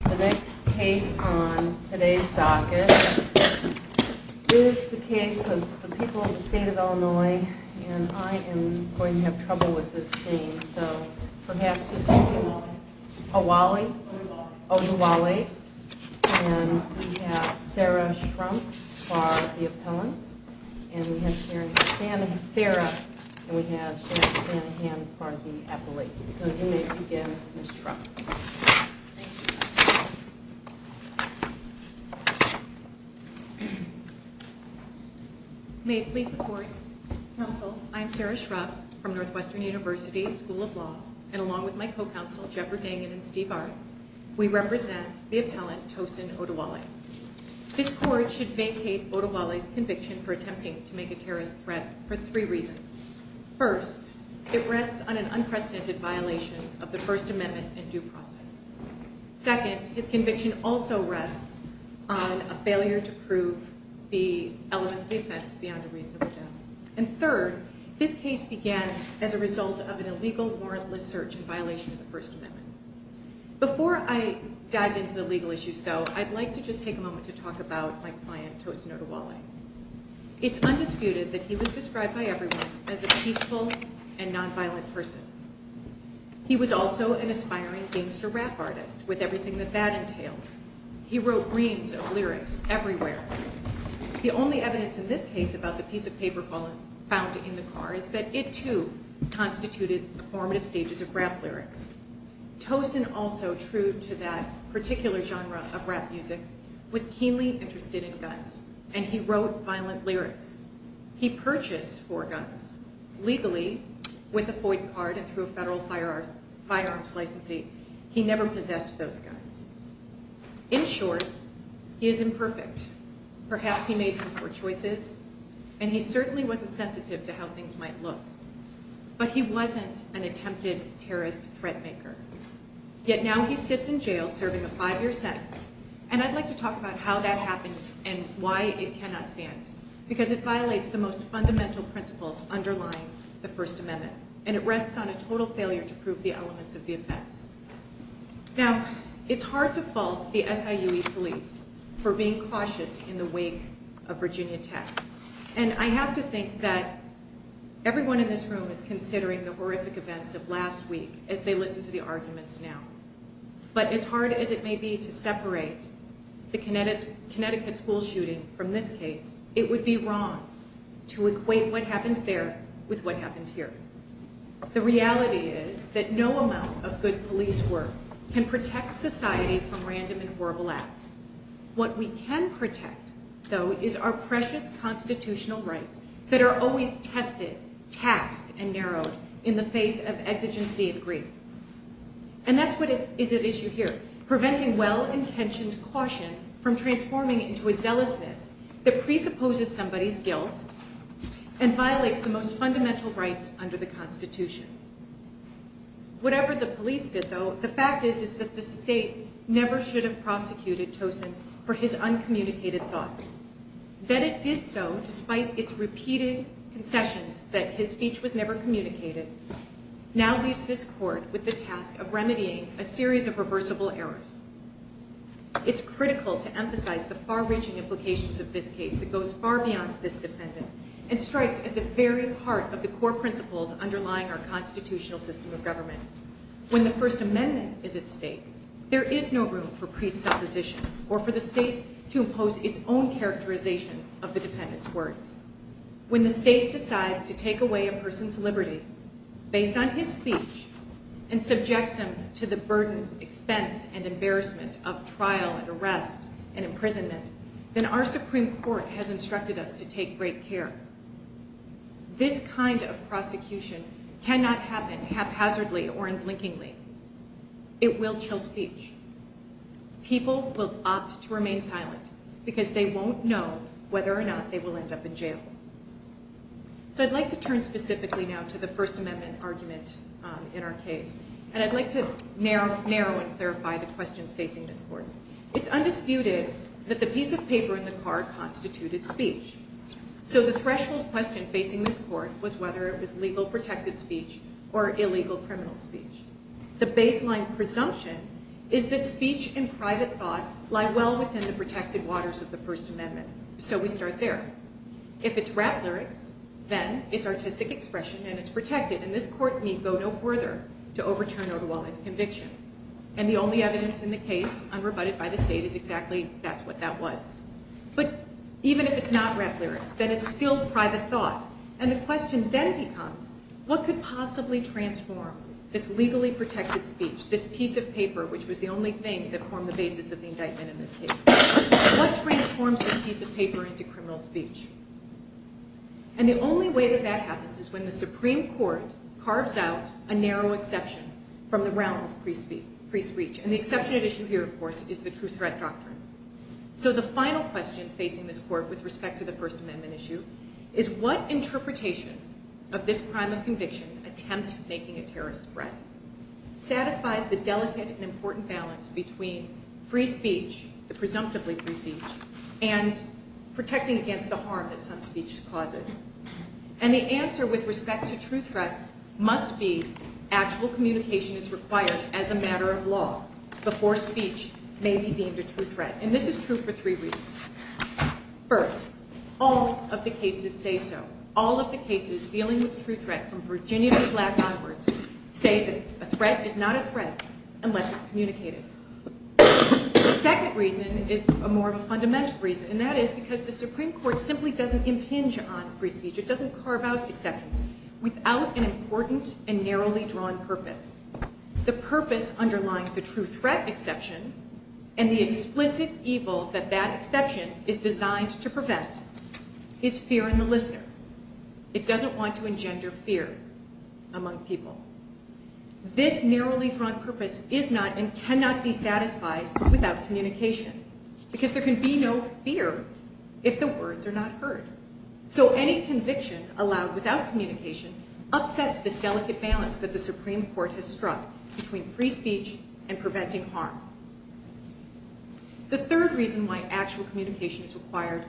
The next case on today's docket is the case of the people of the state of Illinois, and I am going to have trouble with this name, so perhaps it's Oduwole, and we have Sarah Shrump for the appellant, and we have Sharon Shanahan for the appellate. So you may begin, Ms. Shrump. May it please the Court. Counsel, I am Sarah Shrump from Northwestern University School of Law, and along with my co-counsel, Jeffery Dangin and Steve Art, we represent the appellant, Tosin Oduwole. This Court should vacate Oduwole's conviction for attempting to make a terrorist threat for three reasons. First, it rests on an unprecedented violation of the First Amendment and due process. Second, his conviction also rests on a failure to prove the elements of the offense beyond a reasonable doubt. And third, this case began as a result of an illegal warrantless search in violation of the First Amendment. Before I dive into the legal issues, though, I'd like to just take a moment to talk about my client, Tosin Oduwole. It's undisputed that he was described by everyone as a peaceful and nonviolent person. He was also an aspiring gangster rap artist, with everything that that entails. He wrote reams of lyrics everywhere. The only evidence in this case about the piece of paper found in the car is that it, too, constituted the formative stages of rap lyrics. Tosin also, true to that particular genre of rap music, was keenly interested in guns, and he wrote violent lyrics. He purchased four guns, legally, with a FOID card and through a federal firearms licensee. He never possessed those guns. In short, he is imperfect. Perhaps he made some poor choices, and he certainly wasn't sensitive to how things might look. But he wasn't an attempted terrorist threat maker. Yet now he sits in jail serving a five-year sentence, and I'd like to talk about how that happened and why it cannot stand, because it violates the most fundamental principles underlying the First Amendment, and it rests on a total failure to prove the elements of the offense. Now, it's hard to fault the SIUE police for being cautious in the wake of Virginia Tech, and I have to think that everyone in this room is considering the horrific events of last week as they listen to the arguments now, but as hard as it may be to separate the Connecticut school shooting from this case, it would be wrong to equate what happened there with what happened here. The reality is that no amount of good police work can protect society from random and horrible acts. What we can protect, though, is our precious constitutional rights that are always tested, taxed, and narrowed in the face of exigency and greed. And that's what is at issue here, preventing well-intentioned caution from transforming into a zealousness that presupposes somebody's guilt and violates the most fundamental rights under the Constitution. Whatever the police did, though, the fact is that the state never should have prosecuted Tosin for his uncommunicated thoughts. That it did so, despite its repeated concessions that his speech was never communicated, now leaves this court with the task of remedying a series of reversible errors. It's critical to emphasize the far-reaching implications of this case that goes far beyond this defendant and strikes at the very heart of the core principles underlying our constitutional system of government. When the First Amendment is at stake, there is no room for presupposition or for the state to impose its own characterization of the defendant's words. When the state decides to take away a person's liberty based on his speech and subjects him to the burden, expense, and embarrassment of trial and arrest and imprisonment, then our Supreme Court has instructed us to take great care. This kind of prosecution cannot happen haphazardly or unblinkingly. It will chill speech. People will opt to remain silent because they won't know whether or not they will end up in jail. So I'd like to turn specifically now to the First Amendment argument in our case, and I'd like to narrow and clarify the questions facing this court. It's undisputed that the piece of paper in the car constituted speech, so the threshold question facing this court was whether it was legal protected speech or illegal criminal speech. The baseline presumption is that speech and private thought lie well within the protected waters of the First Amendment, so we start there. If it's rap lyrics, then it's artistic expression and it's protected, and this court need go no further to overturn otherwise conviction. And the only evidence in the case unrebutted by the state is exactly that's what that was. But even if it's not rap lyrics, then it's still private thought, and the question then becomes what could possibly transform this legally protected speech, this piece of paper which was the only thing that formed the basis of the indictment in this case? What transforms this piece of paper into criminal speech? And the only way that that happens is when the Supreme Court carves out a narrow exception from the realm of free speech, and the exception at issue here, of course, is the true threat doctrine. So the final question facing this court with respect to the First Amendment issue is what interpretation of this crime of conviction, attempt making a terrorist threat, satisfies the delicate and important balance between free speech, the presumptively free speech, and protecting against the harm that some speech causes? And the answer with respect to true threats must be actual communication is required as a matter of law before speech may be deemed a true threat. And this is true for three reasons. First, all of the cases say so. All of the cases dealing with true threat from Virginia to the black onwards say that a threat is not a threat unless it's communicated. The second reason is more of a fundamental reason, and that is because the Supreme Court simply doesn't impinge on free speech. It doesn't carve out exceptions without an important and narrowly drawn purpose. The purpose underlying the true threat exception and the explicit evil that that exception is designed to prevent is fear in the listener. It doesn't want to engender fear among people. This narrowly drawn purpose is not and cannot be satisfied without communication because there can be no fear if the words are not heard. So any conviction allowed without communication upsets this delicate balance that the Supreme Court has struck between free speech and preventing harm. The third reason why actual communication is required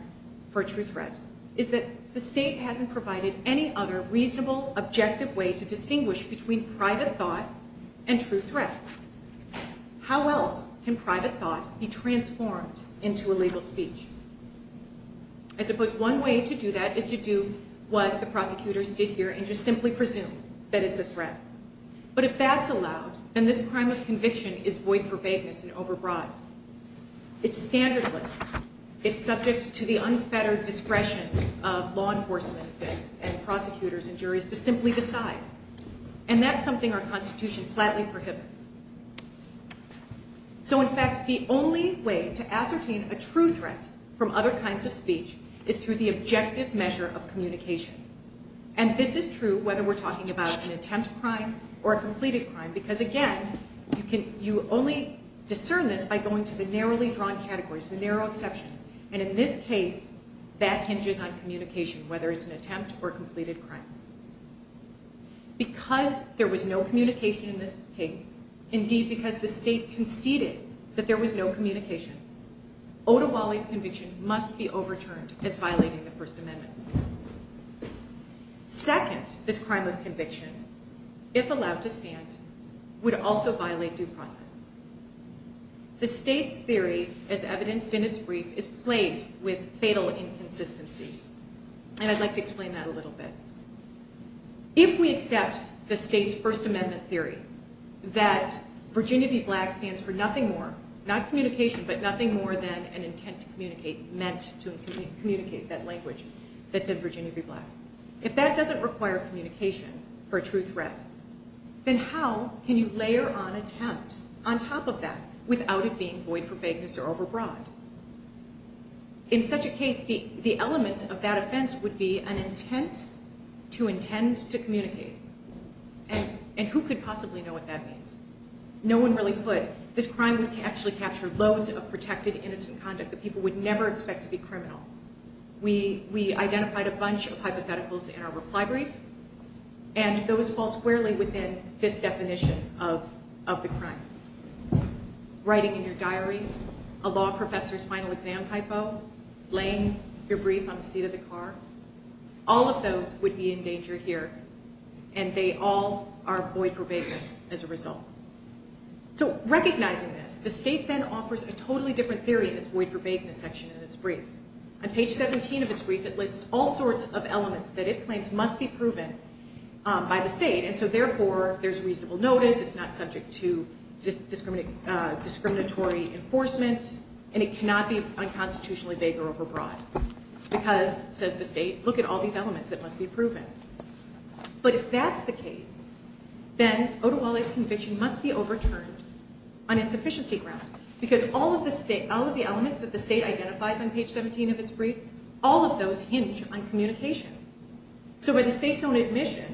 for a true threat is that the state hasn't provided any other reasonable, objective way to distinguish between private thought and true threats. How else can private thought be transformed into a legal speech? I suppose one way to do that is to do what the prosecutors did here and just simply presume that it's a threat. But if that's allowed, then this crime of conviction is void for vagueness and overbroad. It's standardless. It's subject to the unfettered discretion of law enforcement and prosecutors and juries to simply decide. And that's something our Constitution flatly prohibits. So in fact, the only way to ascertain a true threat from other kinds of speech is through the objective measure of communication. And this is true whether we're talking about an attempt crime or a completed crime. Because again, you only discern this by going to the narrowly drawn categories, the narrow exceptions. And in this case, that hinges on communication, whether it's an attempt or a completed crime. Because there was no communication in this case, indeed because the state conceded that there was no communication, Oduwale's conviction must be overturned as violating the First Amendment. Second, this crime of conviction, if allowed to stand, would also violate due process. The state's theory, as evidenced in its brief, is plagued with fatal inconsistencies. And I'd like to explain that a little bit. If we accept the state's First Amendment theory, that Virginia v. Black stands for nothing more, not communication, but nothing more than an intent to communicate, meant to communicate that language that said Virginia v. Black. If that doesn't require communication for a true threat, then how can you layer on attempt on top of that without it being void for vagueness or overbroad? In such a case, the elements of that offense would be an intent to intend to communicate. And who could possibly know what that means? No one really could. This crime would actually capture loads of protected innocent conduct that people would never expect to be criminal. We identified a bunch of hypotheticals in our reply brief, and those fall squarely within this definition of the crime. Writing in your diary, a law professor's final exam typo, laying your brief on the seat of the car. All of those would be in danger here, and they all are void for vagueness as a result. So recognizing this, the state then offers a totally different theory in its void for vagueness section in its brief. On page 17 of its brief, it lists all sorts of elements that it claims must be proven by the state. And so therefore, there's reasonable notice, it's not subject to discriminatory enforcement, and it cannot be unconstitutionally vague or overbroad. Because, says the state, look at all these elements that must be proven. But if that's the case, then Oduwale's conviction must be overturned on insufficiency grounds. Because all of the elements that the state identifies on page 17 of its brief, all of those hinge on communication. So by the state's own admission,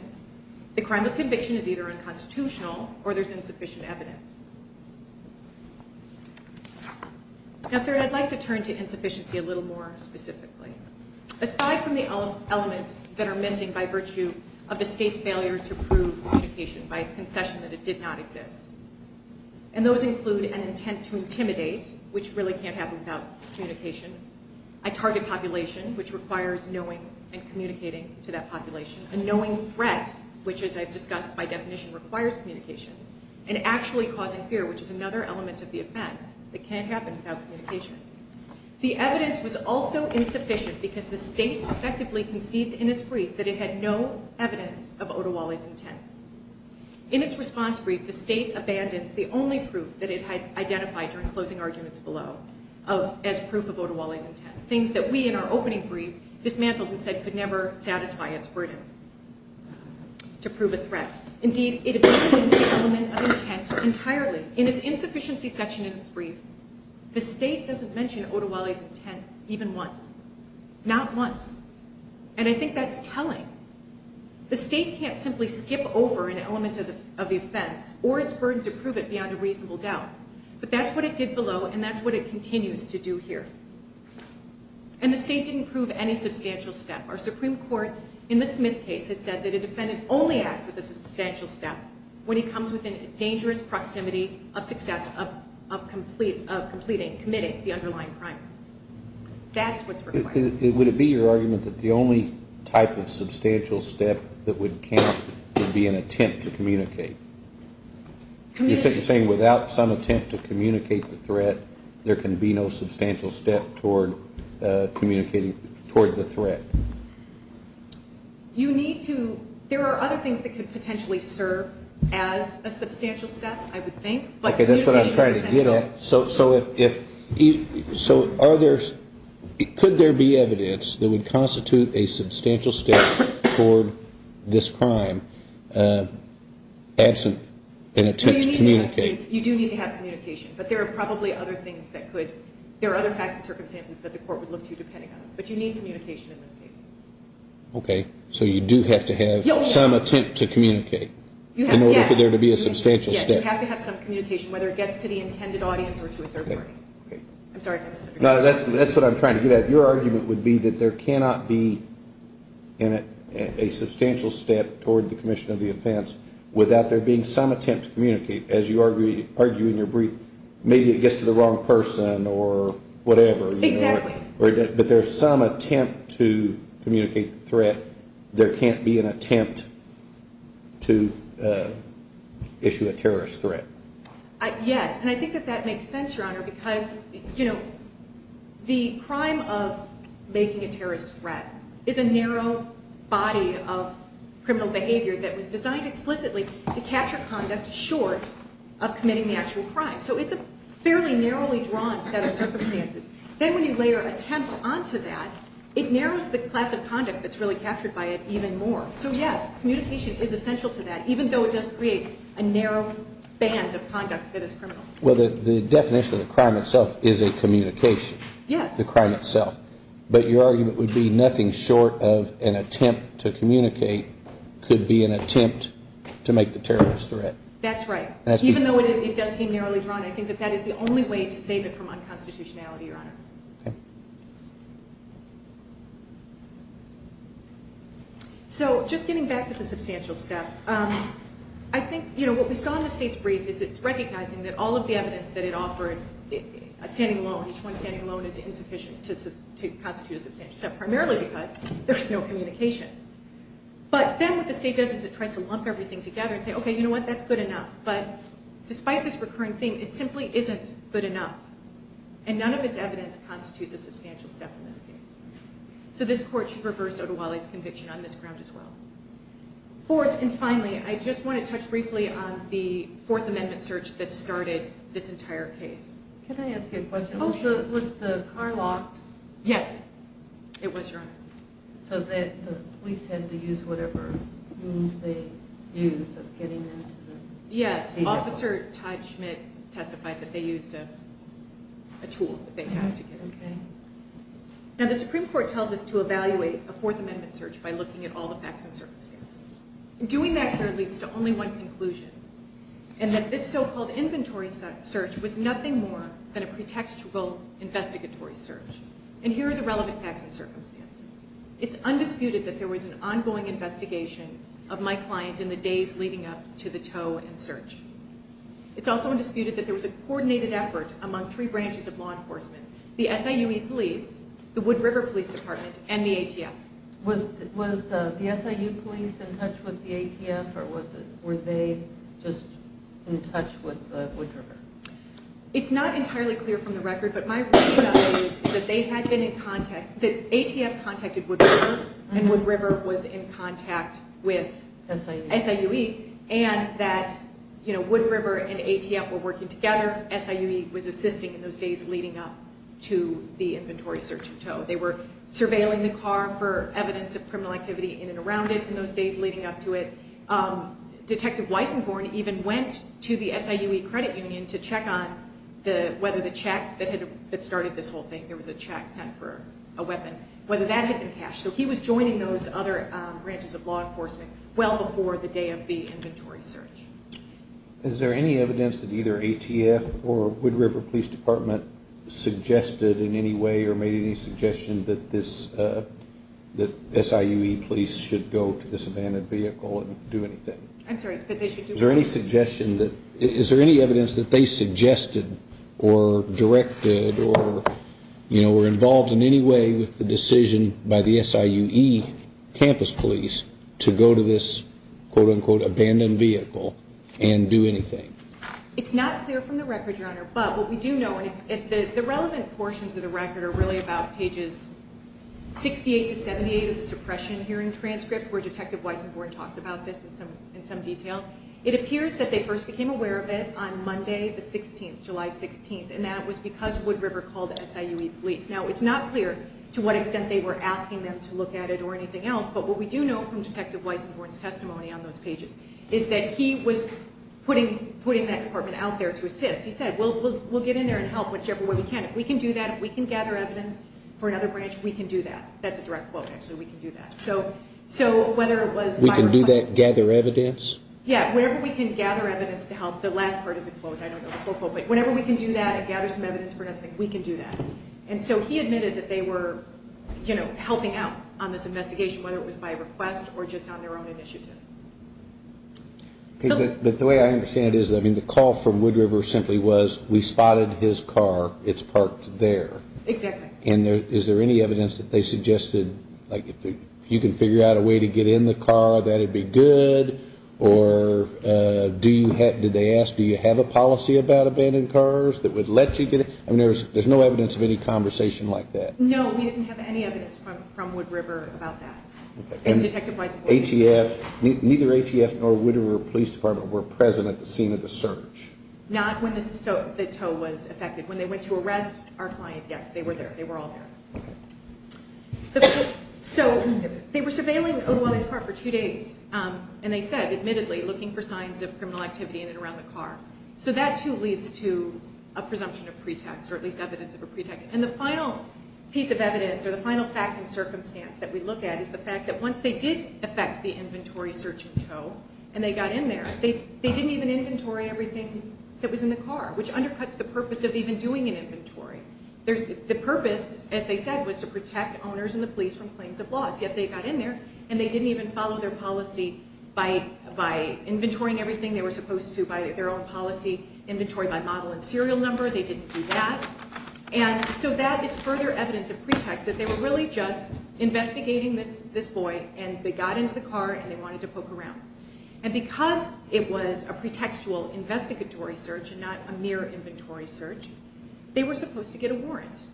the crime of conviction is either unconstitutional or there's insufficient evidence. Now third, I'd like to turn to insufficiency a little more specifically. Aside from the elements that are missing by virtue of the state's failure to prove communication by its concession that it did not exist. And those include an intent to intimidate, which really can't happen without communication. A target population, which requires knowing and communicating to that population. A knowing threat, which as I've discussed by definition requires communication. And actually causing fear, which is another element of the offense that can't happen without communication. The evidence was also insufficient because the state effectively concedes in its brief that it had no evidence of Oduwale's intent. In its response brief, the state abandons the only proof that it had identified during closing arguments below as proof of Oduwale's intent. Things that we in our opening brief dismantled and said could never satisfy its burden to prove a threat. Indeed, it abandons the element of intent entirely. In its insufficiency section in its brief, the state doesn't mention Oduwale's intent even once. Not once. And I think that's telling. The state can't simply skip over an element of the offense or its burden to prove it beyond a reasonable doubt. But that's what it did below and that's what it continues to do here. And the state didn't prove any substantial step. Our Supreme Court in the Smith case has said that a defendant only acts with a substantial step when he comes within a dangerous proximity of success of completing, committing the underlying crime. That's what's required. Would it be your argument that the only type of substantial step that would count would be an attempt to communicate? You're saying without some attempt to communicate the threat, there can be no substantial step toward communicating, toward the threat? You need to, there are other things that could potentially serve as a substantial step, I would think. Okay, that's what I was trying to get at. So if, so are there, could there be evidence that would constitute a substantial step toward this crime absent an attempt to communicate? You do need to have communication. But there are probably other things that could, there are other facts and circumstances that the court would look to depending on. But you need communication in this case. Okay, so you do have to have some attempt to communicate in order for there to be a substantial step. Yes, you have to have some communication, whether it gets to the intended audience or to a third party. I'm sorry if I missed it. No, that's what I'm trying to get at. Your argument would be that there cannot be a substantial step toward the commission of the offense without there being some attempt to communicate. As you argue in your brief, maybe it gets to the wrong person or whatever. Exactly. If there is some attempt to communicate the threat, there can't be an attempt to issue a terrorist threat. Yes, and I think that that makes sense, Your Honor, because, you know, the crime of making a terrorist threat is a narrow body of criminal behavior that was designed explicitly to capture conduct short of committing the actual crime. So it's a fairly narrowly drawn set of circumstances. Then when you layer attempt onto that, it narrows the class of conduct that's really captured by it even more. So, yes, communication is essential to that, even though it does create a narrow band of conduct that is criminal. Well, the definition of the crime itself is a communication. Yes. The crime itself. But your argument would be nothing short of an attempt to communicate could be an attempt to make the terrorist threat. That's right. Even though it does seem narrowly drawn, I think that that is the only way to save it from unconstitutionality, Your Honor. Okay. So just getting back to the substantial step. I think, you know, what we saw in the State's brief is it's recognizing that all of the evidence that it offered, a standing alone, each one standing alone is insufficient to constitute a substantial step, primarily because there's no communication. But then what the State does is it tries to lump everything together and say, okay, you know what, that's good enough. Despite this recurring theme, it simply isn't good enough. And none of its evidence constitutes a substantial step in this case. So this Court should reverse Oduwale's conviction on this ground as well. Fourth, and finally, I just want to touch briefly on the Fourth Amendment search that started this entire case. Can I ask you a question? Oh, sure. Was the car locked? Yes. It was, Your Honor. So that the police had to use whatever means they used of getting into the... Yes, Officer Todd Schmidt testified that they used a tool that they had to get in. Okay. Now, the Supreme Court tells us to evaluate a Fourth Amendment search by looking at all the facts and circumstances. Doing that clearly leads to only one conclusion, and that this so-called inventory search was nothing more than a pretextual investigatory search. And here are the relevant facts and circumstances. It's undisputed that there was an ongoing investigation of my client in the days leading up to the tow and search. It's also undisputed that there was a coordinated effort among three branches of law enforcement. The SIUE police, the Wood River Police Department, and the ATF. Was the SIU police in touch with the ATF, or were they just in touch with Wood River? It's not entirely clear from the record, but my reason is that they had been in contact... ATF contacted Wood River, and Wood River was in contact with SIUE. And that Wood River and ATF were working together. SIUE was assisting in those days leading up to the inventory search of tow. They were surveilling the car for evidence of criminal activity in and around it in those days leading up to it. Detective Weissenborn even went to the SIUE credit union to check on whether the check that started this whole thing... whether that had been cashed. So he was joining those other branches of law enforcement well before the day of the inventory search. Is there any evidence that either ATF or Wood River Police Department suggested in any way... or made any suggestion that SIUE police should go to this abandoned vehicle and do anything? Is there any evidence that they suggested or directed or were involved in any way with the decision by the SIUE campus police... to go to this quote-unquote abandoned vehicle and do anything? It's not clear from the record, Your Honor. But what we do know, and the relevant portions of the record are really about pages 68 to 78 of the suppression hearing transcript... where Detective Weissenborn talks about this in some detail. It appears that they first became aware of it on Monday the 16th, July 16th. And that was because Wood River called SIUE police. Now it's not clear to what extent they were asking them to look at it or anything else. But what we do know from Detective Weissenborn's testimony on those pages is that he was putting that department out there to assist. He said, we'll get in there and help whichever way we can. If we can do that, if we can gather evidence for another branch, we can do that. That's a direct quote actually, we can do that. So whether it was... We can do that, gather evidence? We can gather evidence to help. The last part is a quote, I don't know the full quote. But whenever we can do that and gather some evidence for another thing, we can do that. And so he admitted that they were, you know, helping out on this investigation, whether it was by request or just on their own initiative. But the way I understand it is, I mean, the call from Wood River simply was, we spotted his car, it's parked there. Exactly. And is there any evidence that they suggested, like, if you can figure out a way to get in the car, that'd be good? Or do you have, did they ask, do you have a policy about abandoned cars that would let you get in? I mean, there's no evidence of any conversation like that. No, we didn't have any evidence from Wood River about that. And ATF, neither ATF nor Wood River Police Department were present at the scene of the search. Not when the tow was affected. When they went to arrest our client, yes, they were there. They were all there. So they were surveilling Oluwole's car for two days. And they said, admittedly, looking for signs of criminal activity in and around the car. So that, too, leads to a presumption of pretext, or at least evidence of a pretext. And the final piece of evidence, or the final fact and circumstance that we look at is the fact that once they did affect the inventory search in tow, and they got in there, they didn't even inventory everything that was in the car, which undercuts the purpose of even doing an inventory. The purpose, as they said, was to protect owners and the police from claims of loss. Yet they got in there, and they didn't even follow their policy by inventorying everything they were supposed to by their own policy, inventory by model and serial number. They didn't do that. And so that is further evidence of pretext, that they were really just investigating this boy, and they got into the car, and they wanted to poke around. And because it was a pretextual investigatory search and not a mere inventory search, they were supposed to get a warrant,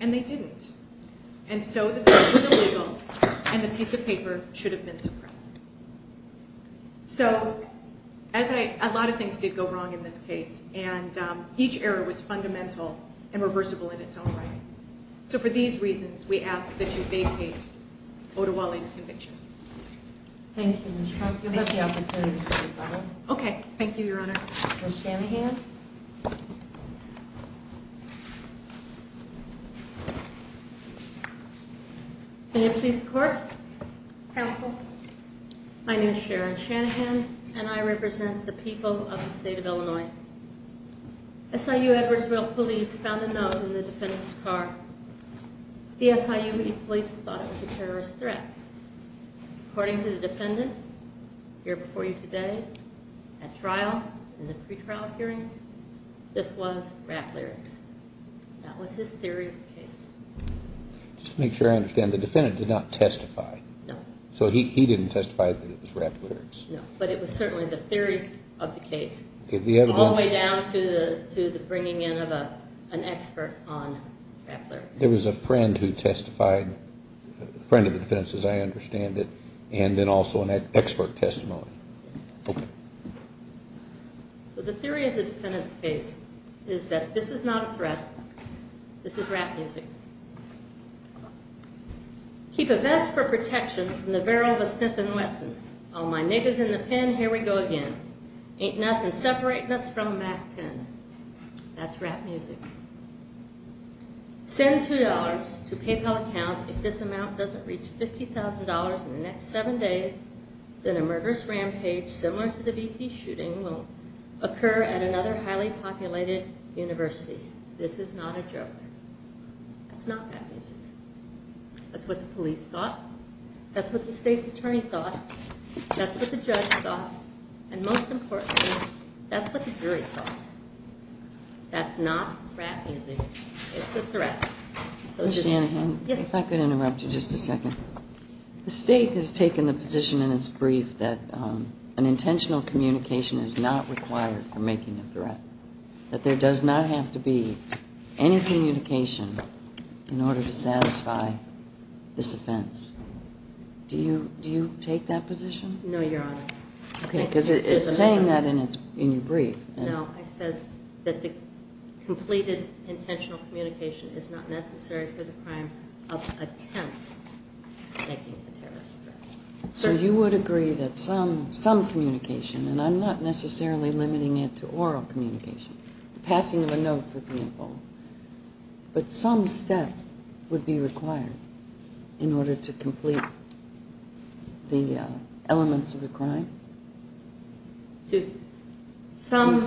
and they didn't. And so the search was illegal, and the piece of paper should have been suppressed. So a lot of things did go wrong in this case, and each error was fundamental and reversible in its own right. So for these reasons, we ask that you vacate Odewale's conviction. Thank you, Ms. Trump. You'll have the opportunity to speak, Barbara. Okay. Thank you, Your Honor. Ms. Shanahan. Thank you. May it please the Court. Counsel. My name is Sharon Shanahan, and I represent the people of the state of Illinois. SIU Edwardsville police found a note in the defendant's car. The SIUE police thought it was a terrorist threat. According to the defendant, here before you today, at trial, in the pretrial hearing, this was rap lyrics. That was his theory of the case. Just to make sure I understand, the defendant did not testify. No. So he didn't testify that it was rap lyrics. No, but it was certainly the theory of the case, all the way down to the bringing in of an expert on rap lyrics. There was a friend who testified, a friend of the defendant's, as I understand it, and then also an expert testimony. Okay. So the theory of the defendant's case is that this is not a threat. This is rap music. Keep a vest for protection from the barrel of a Sniffin' Wesson. All my niggas in the pen, here we go again. Ain't nothin' separatin' us from a Mac-10. That's rap music. Send $2 to PayPal account. If this amount doesn't reach $50,000 in the next seven days, then a murderous rampage similar to the VT shooting will occur at another highly populated university. This is not a joke. That's not rap music. That's what the police thought. That's what the state's attorney thought. That's what the judge thought. And most importantly, that's what the jury thought. That's not rap music. It's a threat. Ms. Shanahan, if I could interrupt you just a second. The state has taken the position in its brief that an intentional communication is not required for making a threat. That there does not have to be any communication in order to satisfy this offense. Do you take that position? No, Your Honor. Okay, because it's saying that in your brief. It said that the completed intentional communication is not necessary for the crime of attempt at making a terrorist threat. So you would agree that some communication, and I'm not necessarily limiting it to oral communication. Passing of a note, for example. But some step would be required in order to complete the elements of the crime? Some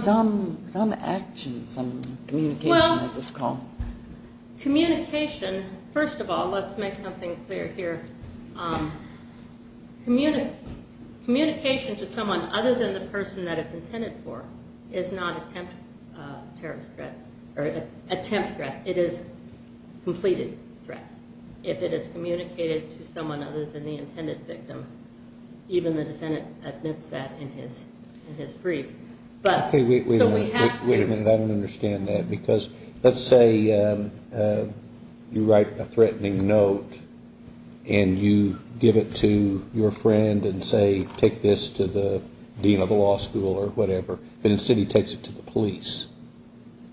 action, some communication, as it's called. Communication, first of all, let's make something clear here. Communication to someone other than the person that it's intended for is not attempt threat. It is completed threat. If it is communicated to someone other than the intended victim. Even the defendant admits that in his brief. Okay, wait a minute. I don't understand that because let's say you write a threatening note. And you give it to your friend and say take this to the dean of the law school or whatever. But instead he takes it to the police.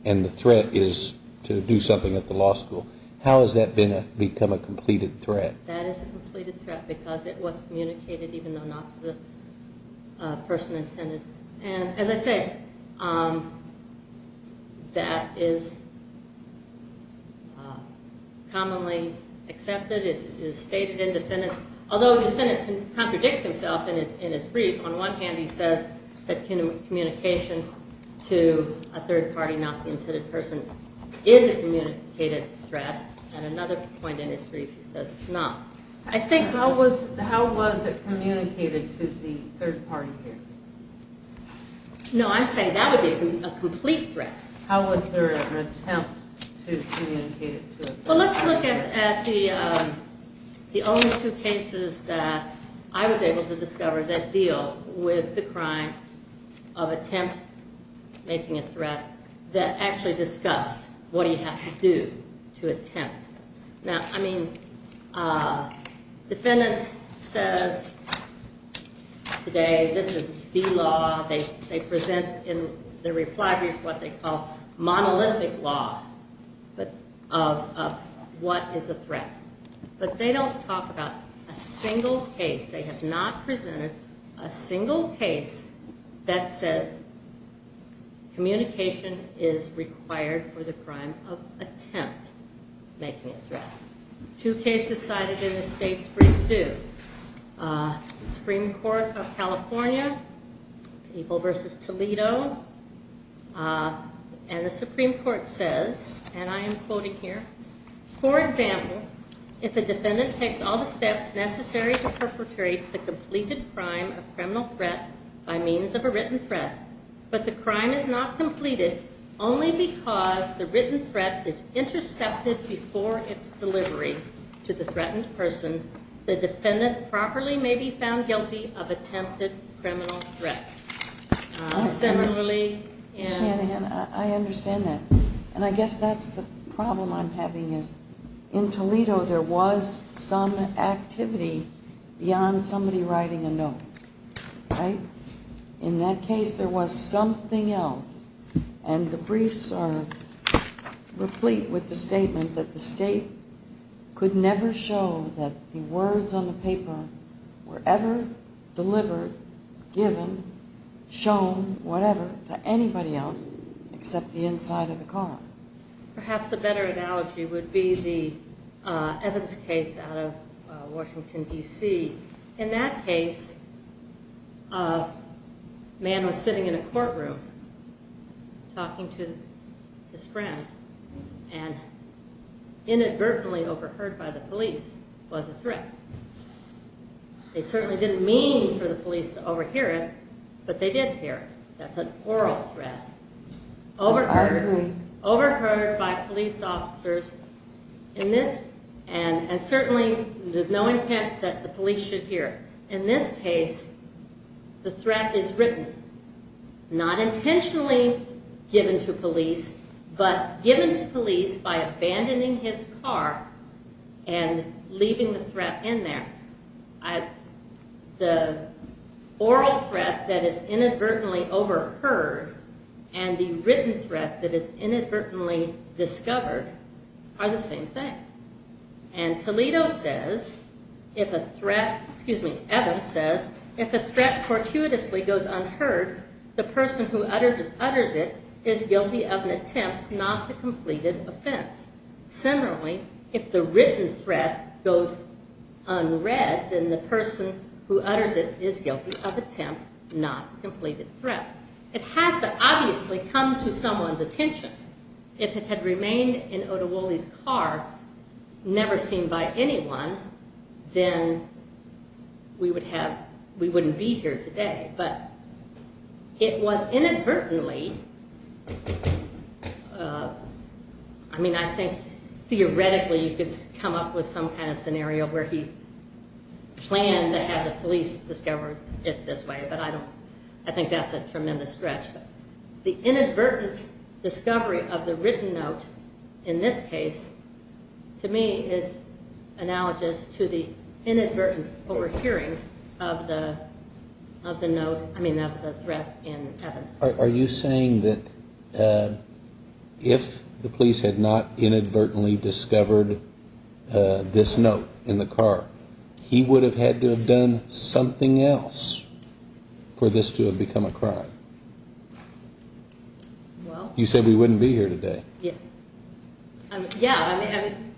And the threat is to do something at the law school. How has that become a completed threat? That is a completed threat because it was communicated even though not to the person intended. And as I said, that is commonly accepted. It is stated in defendant's, although the defendant contradicts himself in his brief. On one hand he says that communication to a third party, not the intended person, is a communicated threat. And another point in his brief he says it's not. I think how was it communicated to the third party here? No, I'm saying that would be a complete threat. How was there an attempt to communicate it to a third party? Well, let's look at the only two cases that I was able to discover that deal with the crime of attempt making a threat. That actually discussed what do you have to do to attempt. Now, I mean, defendant says today this is the law. They present in their reply brief what they call monolithic law of what is a threat. But they don't talk about a single case. They have not presented a single case that says communication is required for the crime of attempt making a threat. Two cases cited in the state's brief do. Supreme Court of California, people versus Toledo. And the Supreme Court says, and I am quoting here. For example, if a defendant takes all the steps necessary to perpetrate the completed crime of criminal threat by means of a written threat, but the crime is not completed only because the written threat is intercepted before its delivery to the threatened person, the defendant properly may be found guilty of attempted criminal threat. Senator Lee. I understand that. And I guess that's the problem I'm having is in Toledo there was some activity beyond somebody writing a note, right? In that case there was something else. And the briefs are replete with the statement that the state could never show that the words on the paper were ever delivered, given, shown, whatever, to anybody else except the inside of the car. Perhaps a better analogy would be the Evans case out of Washington, D.C. In that case, a man was sitting in a courtroom talking to his friend and inadvertently overheard by the police was a threat. They certainly didn't mean for the police to overhear it, but they did hear it. That's an oral threat. I agree. Overheard by police officers, and certainly there's no intent that the police should hear it. In this case, the threat is written. Not intentionally given to police, but given to police by abandoning his car and leaving the threat in there. The oral threat that is inadvertently overheard and the written threat that is inadvertently discovered are the same thing. And Toledo says, if a threat, excuse me, Evans says, if a threat fortuitously goes unheard, the person who utters it is guilty of an attempt, not the completed offense. Similarly, if the written threat goes unread, then the person who utters it is guilty of attempt, not completed threat. It has to obviously come to someone's attention. If it had remained in Oduwole's car, never seen by anyone, then we wouldn't be here today. But it was inadvertently, I mean I think theoretically you could come up with some kind of scenario where he planned to have the police discover it this way. But I don't, I think that's a tremendous stretch. The inadvertent discovery of the written note in this case to me is analogous to the inadvertent overhearing of the note, I mean of the threat in Evans. Are you saying that if the police had not inadvertently discovered this note in the car, he would have had to have done something else for this to have become a crime? Well. You said we wouldn't be here today. Yes. Yeah, I mean.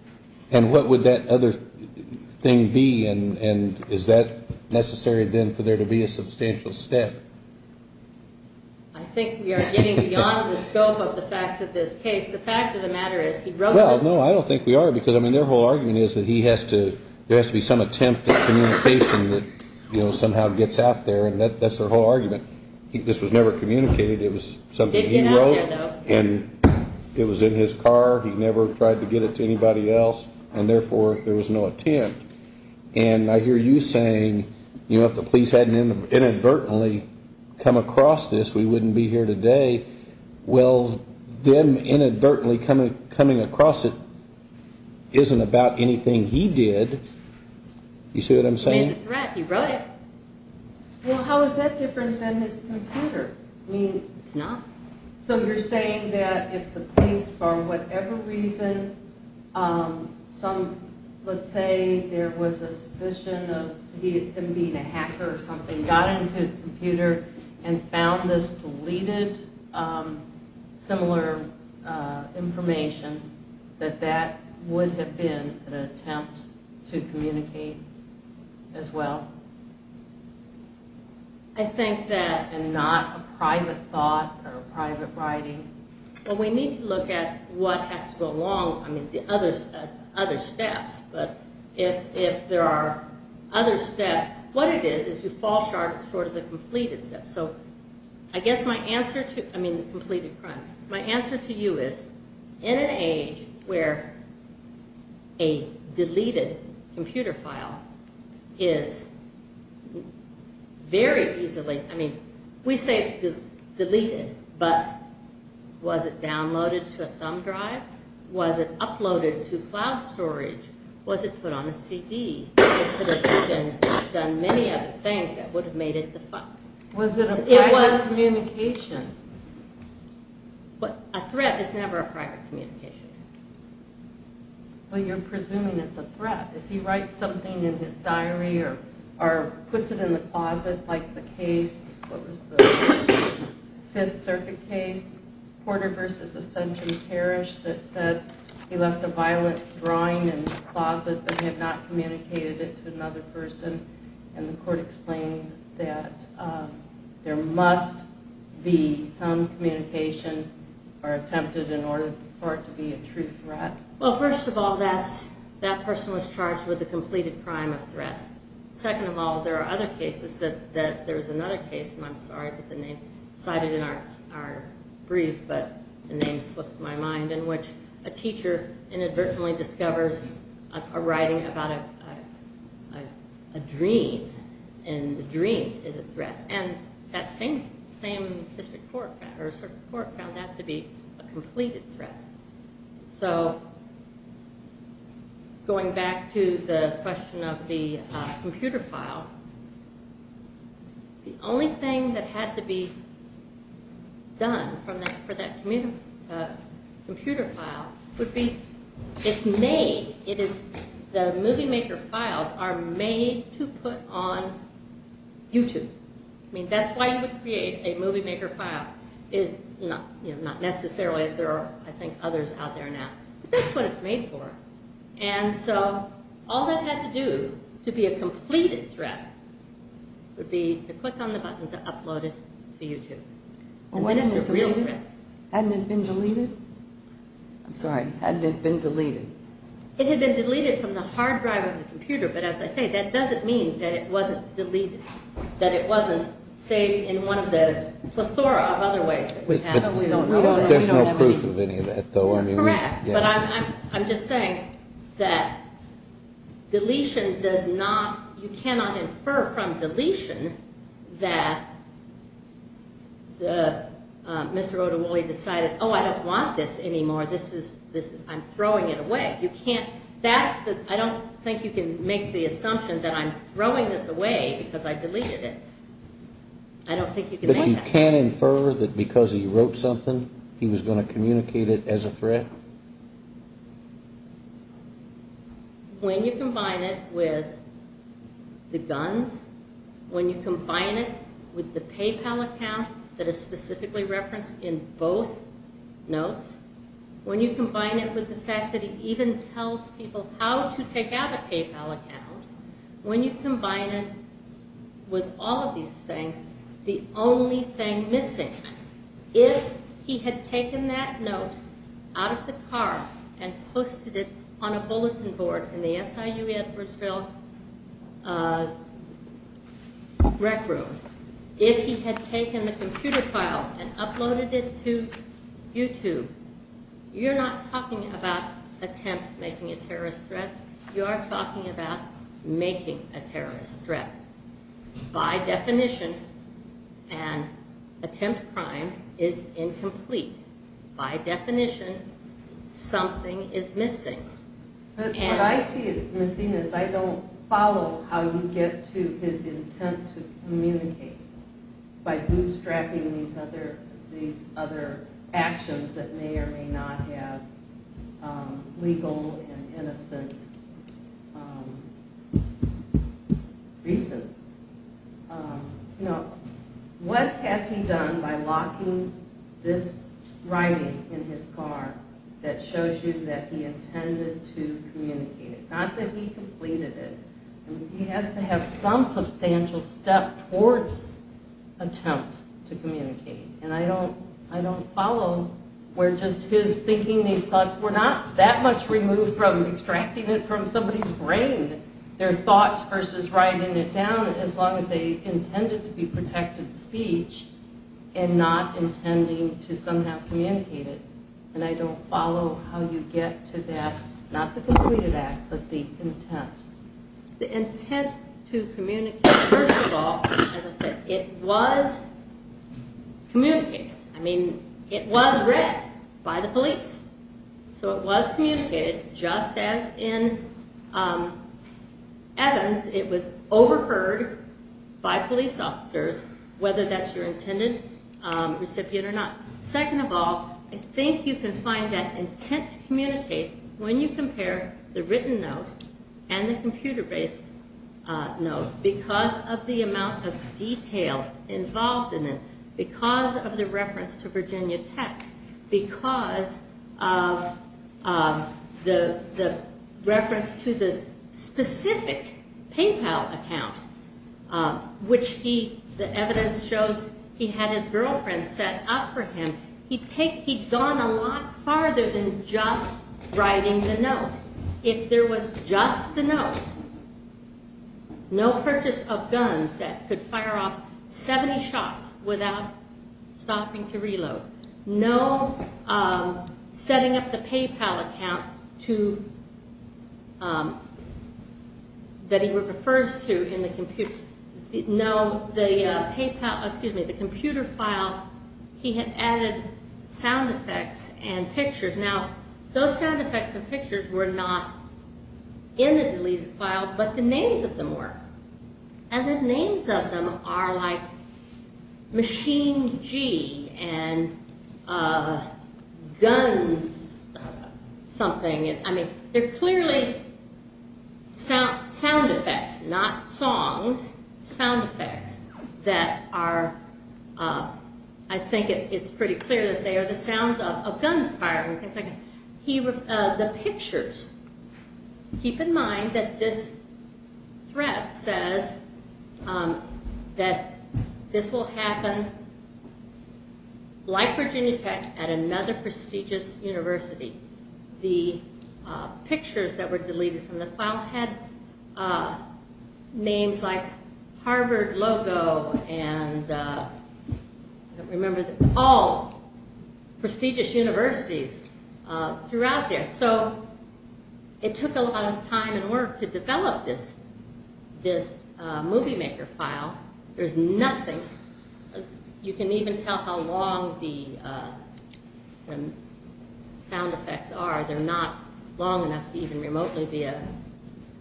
And what would that other thing be and is that necessary then for there to be a substantial step? I think we are getting beyond the scope of the facts of this case. The fact of the matter is he wrote this. Well, no, I don't think we are because I mean their whole argument is that he has to, there has to be some attempt at communication that, you know, somehow gets out there and that's their whole argument. This was never communicated. It was something he wrote and it was in his car. He never tried to get it to anybody else and therefore there was no attempt. And I hear you saying, you know, if the police hadn't inadvertently come across this, we wouldn't be here today. Well, them inadvertently coming across it isn't about anything he did. You see what I'm saying? He wrote it. Well, how is that different than his computer? It's not. So you're saying that if the police, for whatever reason, some, let's say there was a suspicion of him being a hacker or something, got into his computer and found this deleted, similar information, that that would have been an attempt to communicate as well? I think that... And not a private thought or private writing? Well, we need to look at what has to go along, I mean the other steps, but if there are other steps, what it is is to fall short of the completed steps. So I guess my answer to, I mean the completed crime, my answer to you is in an age where a deleted computer file is very easily, I mean we say it's deleted, but was it downloaded to a thumb drive? Was it uploaded to cloud storage? Was it put on a CD? It could have done many other things that would have made it the file. It was a private communication. But a threat is never a private communication. Well, you're presuming it's a threat. If he writes something in his diary or puts it in the closet, like the case, what was the Fifth Circuit case, Porter v. Ascension Parish, that said he left a violent drawing in his closet but had not communicated it to another person, and the court explained that there must be some communication or attempted in order for it to be a true threat? Well, first of all, that person was charged with a completed crime of threat. Second of all, there are other cases that there's another case, and I'm sorry that the name is cited in our brief, but the name slips my mind, in which a teacher inadvertently discovers a writing about a dream, and the dream is a threat. And that same district court found that to be a completed threat. So, going back to the question of the computer file, the only thing that had to be done for that computer file would be, it's made, the Movie Maker files are made to put on YouTube. I mean, that's why you would create a Movie Maker file, not necessarily, there are, I think, others out there now, but that's what it's made for. And so, all that had to do to be a completed threat would be to click on the button to upload it to YouTube. Hadn't it been deleted? I'm sorry, hadn't it been deleted? It had been deleted from the hard drive of the computer, but as I say, that doesn't mean that it wasn't deleted, that it wasn't saved in one of the plethora of other ways. There's no proof of any of that, though. Correct, but I'm just saying that deletion does not, you cannot infer from deletion that Mr. Oduwole decided, oh, I don't want this anymore, I'm throwing it away. I don't think you can make the assumption that I'm throwing this away because I deleted it. I don't think you can make that. But you can infer that because he wrote something, he was going to communicate it as a threat? When you combine it with the guns, when you combine it with the PayPal account that is specifically referenced in both notes, when you combine it with the fact that he even tells people how to take out a PayPal account, when you combine it with all of these things, the only thing missing, if he had taken that note out of the car and posted it on a bulletin board in the SIU Edwardsville rec room, if he had taken the computer file and uploaded it to YouTube, you're not talking about attempt making a terrorist threat, you are talking about making a terrorist threat. By definition, an attempt crime is incomplete. By definition, something is missing. What I see as missing is I don't follow how you get to his intent to communicate by bootstrapping these other actions that may or may not have legal and innocent reasons. What has he done by locking this writing in his car that shows you that he intended to communicate it? Not that he completed it. He has to have some substantial step towards attempt to communicate. I don't follow where just his thinking these thoughts were not that much removed from extracting it from somebody's brain, their thoughts versus writing it down, as long as they intended to be protected speech and not intending to somehow communicate it. I don't follow how you get to that, not the completed act, but the intent. The intent to communicate, first of all, as I said, it was communicated. I mean, it was read by the police. So it was communicated just as in Evans, it was overheard by police officers, whether that's your intended recipient or not. Second of all, I think you can find that intent to communicate when you compare the written note and the computer-based note, because of the amount of detail involved in it, because of the reference to Virginia Tech, because of the reference to the specific PayPal account, which the evidence shows he had his girlfriend set up for him. He'd gone a lot farther than just writing the note. If there was just the note, no purchase of guns that could fire off 70 shots without stopping to reload, no setting up the PayPal account that he refers to in the computer, no, the computer file, he had added sound effects and pictures. Now, those sound effects and pictures were not in the deleted file, but the names of them were. And the names of them are like Machine G and Guns something. I mean, they're clearly sound effects, not songs, sound effects that are, I think it's pretty clear that they are the sounds of guns firing. The pictures, keep in mind that this thread says that this will happen like Virginia Tech at another prestigious university. The pictures that were deleted from the file had names like Harvard logo, and remember, all prestigious universities throughout there. So it took a lot of time and work to develop this movie maker file. There's nothing, you can even tell how long the sound effects are. They're not long enough to even remotely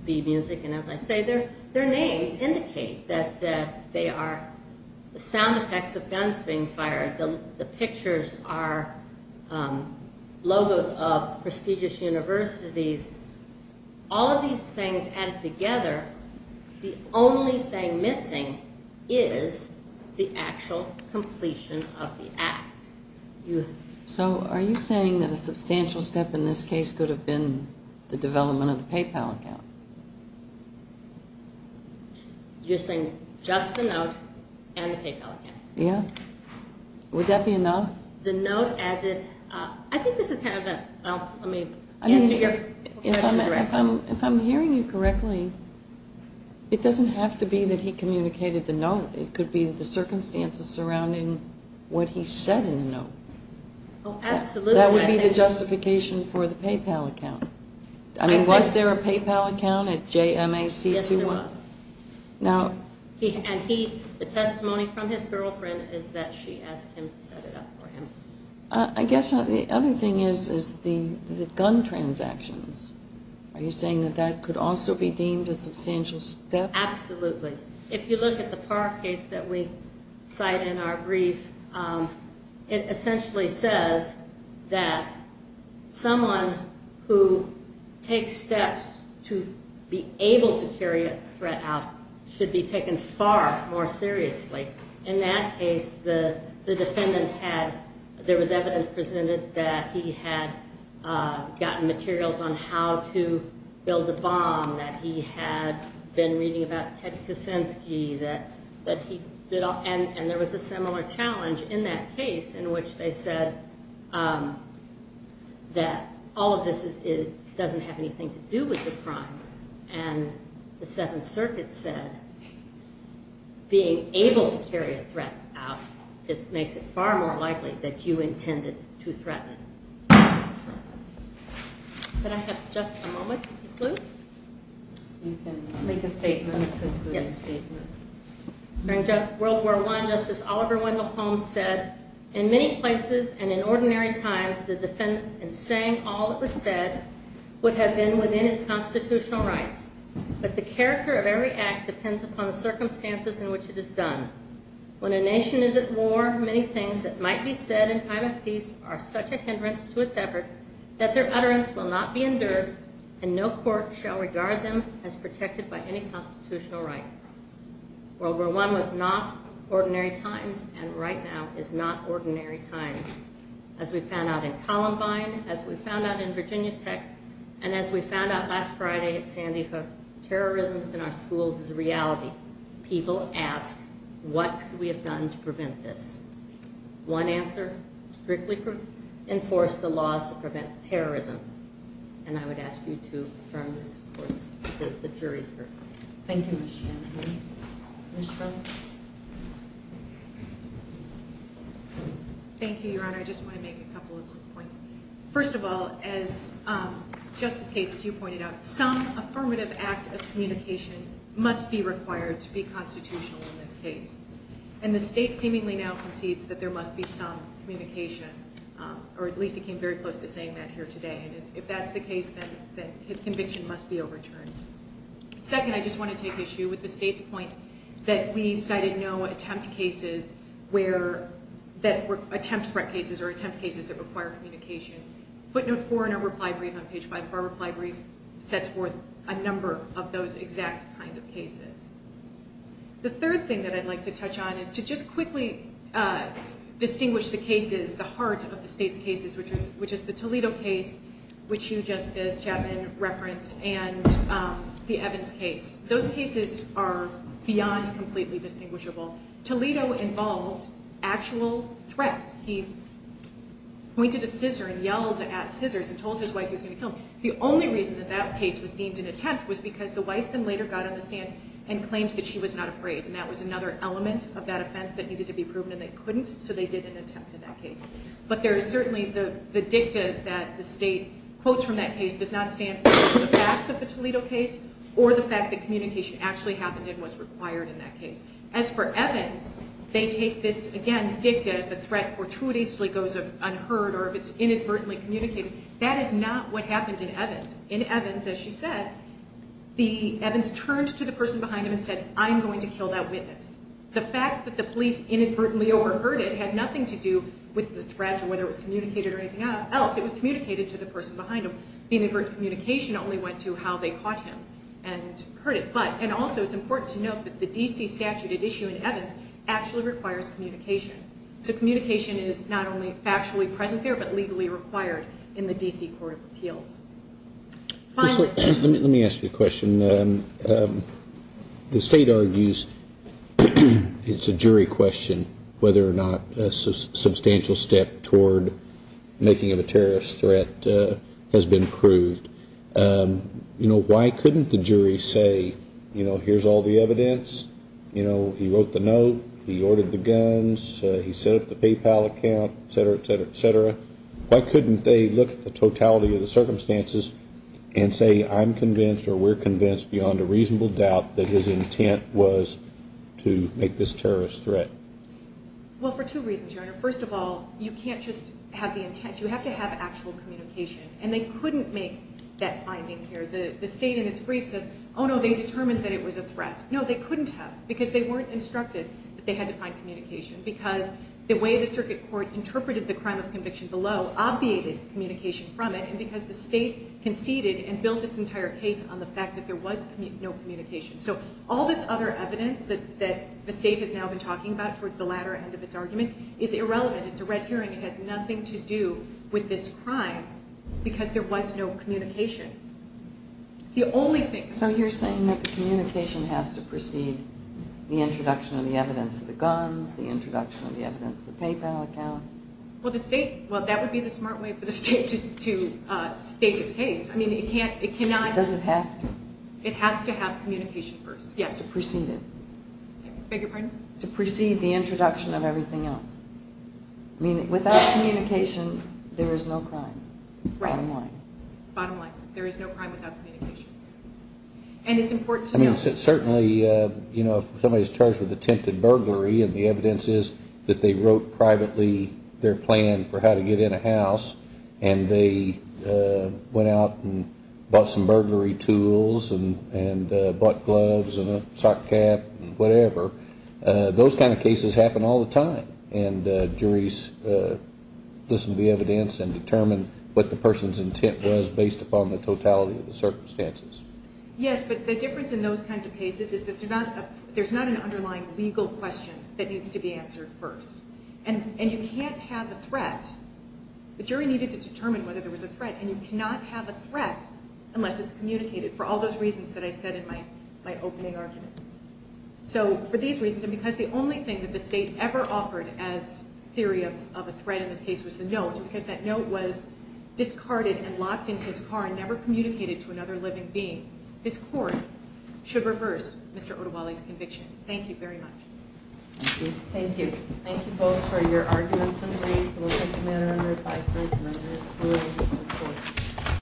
be music. And as I say, their names indicate that they are the sound effects of guns being fired. The pictures are logos of prestigious universities. All of these things added together, the only thing missing is the actual completion of the act. So are you saying that a substantial step in this case could have been the development of the PayPal account? You're saying just the note and the PayPal account? Yeah. Would that be enough? The note as it, I think this is kind of a, let me answer your question directly. If I'm hearing you correctly, it doesn't have to be that he communicated the note. It could be the circumstances surrounding what he said in the note. Oh, absolutely. That would be the justification for the PayPal account. I mean, was there a PayPal account at JMAC 21? Yes, there was. And the testimony from his girlfriend is that she asked him to set it up for him. I guess the other thing is the gun transactions. Are you saying that that could also be deemed a substantial step? Absolutely. If you look at the Park case that we cite in our brief, it essentially says that someone who takes steps to be able to carry a threat out should be taken far more seriously. In that case, the defendant had, there was evidence presented that he had gotten materials on how to build a bomb, that he had been reading about Ted Kuczynski, and there was a similar challenge in that case in which they said that all of this doesn't have anything to do with the crime. And the Seventh Circuit said being able to carry a threat out makes it far more likely that you intended to threaten. Could I have just a moment to conclude? You can make a statement to conclude your statement. During World War I, Justice Oliver Wendell Holmes said, In many places and in ordinary times, the defendant, in saying all that was said, would have been within his constitutional rights. But the character of every act depends upon the circumstances in which it is done. When a nation is at war, many things that might be said in time of peace are such a hindrance to its effort that their utterance will not be endured, and no court shall regard them as protected by any constitutional right. World War I was not ordinary times, and right now is not ordinary times. As we found out in Columbine, as we found out in Virginia Tech, and as we found out last Friday at Sandy Hook, that terrorism is in our schools is a reality. People ask, what could we have done to prevent this? One answer, strictly enforce the laws that prevent terrorism. And I would ask you to affirm this to the jury. Thank you, Ms. Shanahan. Thank you, Your Honor. I just want to make a couple of points. First of all, as Justice Gates, as you pointed out, some affirmative act of communication must be required to be constitutional in this case. And the state seemingly now concedes that there must be some communication, or at least it came very close to saying that here today. And if that's the case, then his conviction must be overturned. Second, I just want to take issue with the state's point that we've cited no attempt cases that require communication. Footnote 4 in our reply brief on page 5 of our reply brief sets forth a number of those exact kind of cases. The third thing that I'd like to touch on is to just quickly distinguish the cases, the heart of the state's cases, which is the Toledo case, which you, Justice Chapman, referenced, and the Evans case. Those cases are beyond completely distinguishable. Toledo involved actual threats. He pointed a scissor and yelled at scissors and told his wife he was going to kill him. The only reason that that case was deemed an attempt was because the wife then later got on the stand and claimed that she was not afraid. And that was another element of that offense that needed to be proven, and they couldn't, so they did an attempt in that case. But there is certainly the dicta that the state quotes from that case does not stand for the facts of the Toledo case or the fact that communication actually happened and was required in that case. As for Evans, they take this, again, dicta, the threat fortuitously goes unheard or if it's inadvertently communicated. That is not what happened in Evans. In Evans, as you said, Evans turned to the person behind him and said, I'm going to kill that witness. The fact that the police inadvertently overheard it had nothing to do with the threat or whether it was communicated or anything else. It was communicated to the person behind him. The inadvertent communication only went to how they caught him and heard it. But, and also, it's important to note that the D.C. statute at issue in Evans actually requires communication. So communication is not only factually present there, but legally required in the D.C. Court of Appeals. Let me ask you a question. The state argues it's a jury question whether or not a substantial step toward making it a terrorist threat has been proved. You know, why couldn't the jury say, you know, here's all the evidence. You know, he wrote the note. He ordered the guns. He set up the PayPal account, et cetera, et cetera, et cetera. Why couldn't they look at the totality of the circumstances and say, I'm convinced or we're convinced beyond a reasonable doubt that his intent was to make this terrorist threat? Well, for two reasons, Your Honor. First of all, you can't just have the intent. You have to have actual communication. And they couldn't make that finding here. The state in its brief says, oh, no, they determined that it was a threat. No, they couldn't have because they weren't instructed that they had to find communication. Because the way the circuit court interpreted the crime of conviction below obviated communication from it. And because the state conceded and built its entire case on the fact that there was no communication. So all this other evidence that the state has now been talking about towards the latter end of its argument is irrelevant. It's a red herring. It has nothing to do with this crime because there was no communication. The only thing. So you're saying that the communication has to precede the introduction of the evidence, the guns, the introduction of the evidence, the PayPal account. Well, the state, well, that would be the smart way for the state to state its case. I mean, it can't, it cannot. Does it have to? It has to have communication first. Yes. To precede it. Beg your pardon? To precede the introduction of everything else. I mean, without communication, there is no crime. Right. Bottom line. Bottom line. There is no crime without communication. And it's important to know. I mean, certainly, you know, if somebody's charged with attempted burglary and the evidence is that they wrote privately their plan for how to get in a house and they went out and bought some burglary tools and bought gloves and a sock cap and whatever, those kind of cases happen all the time. And juries listen to the evidence and determine what the person's intent was based upon the totality of the circumstances. Yes, but the difference in those kinds of cases is that there's not an underlying legal question that needs to be answered first. And you can't have a threat. The jury needed to determine whether there was a threat. And you cannot have a threat unless it's communicated for all those reasons that I said in my opening argument. So, for these reasons, and because the only thing that the state ever offered as theory of a threat in this case was the note, because that note was discarded and locked in his car and never communicated to another living being, this court should reverse Mr. Odewale's conviction. Thank you very much. Thank you. Thank you both for your arguments and reasons. We'll take a minute under advisory committee.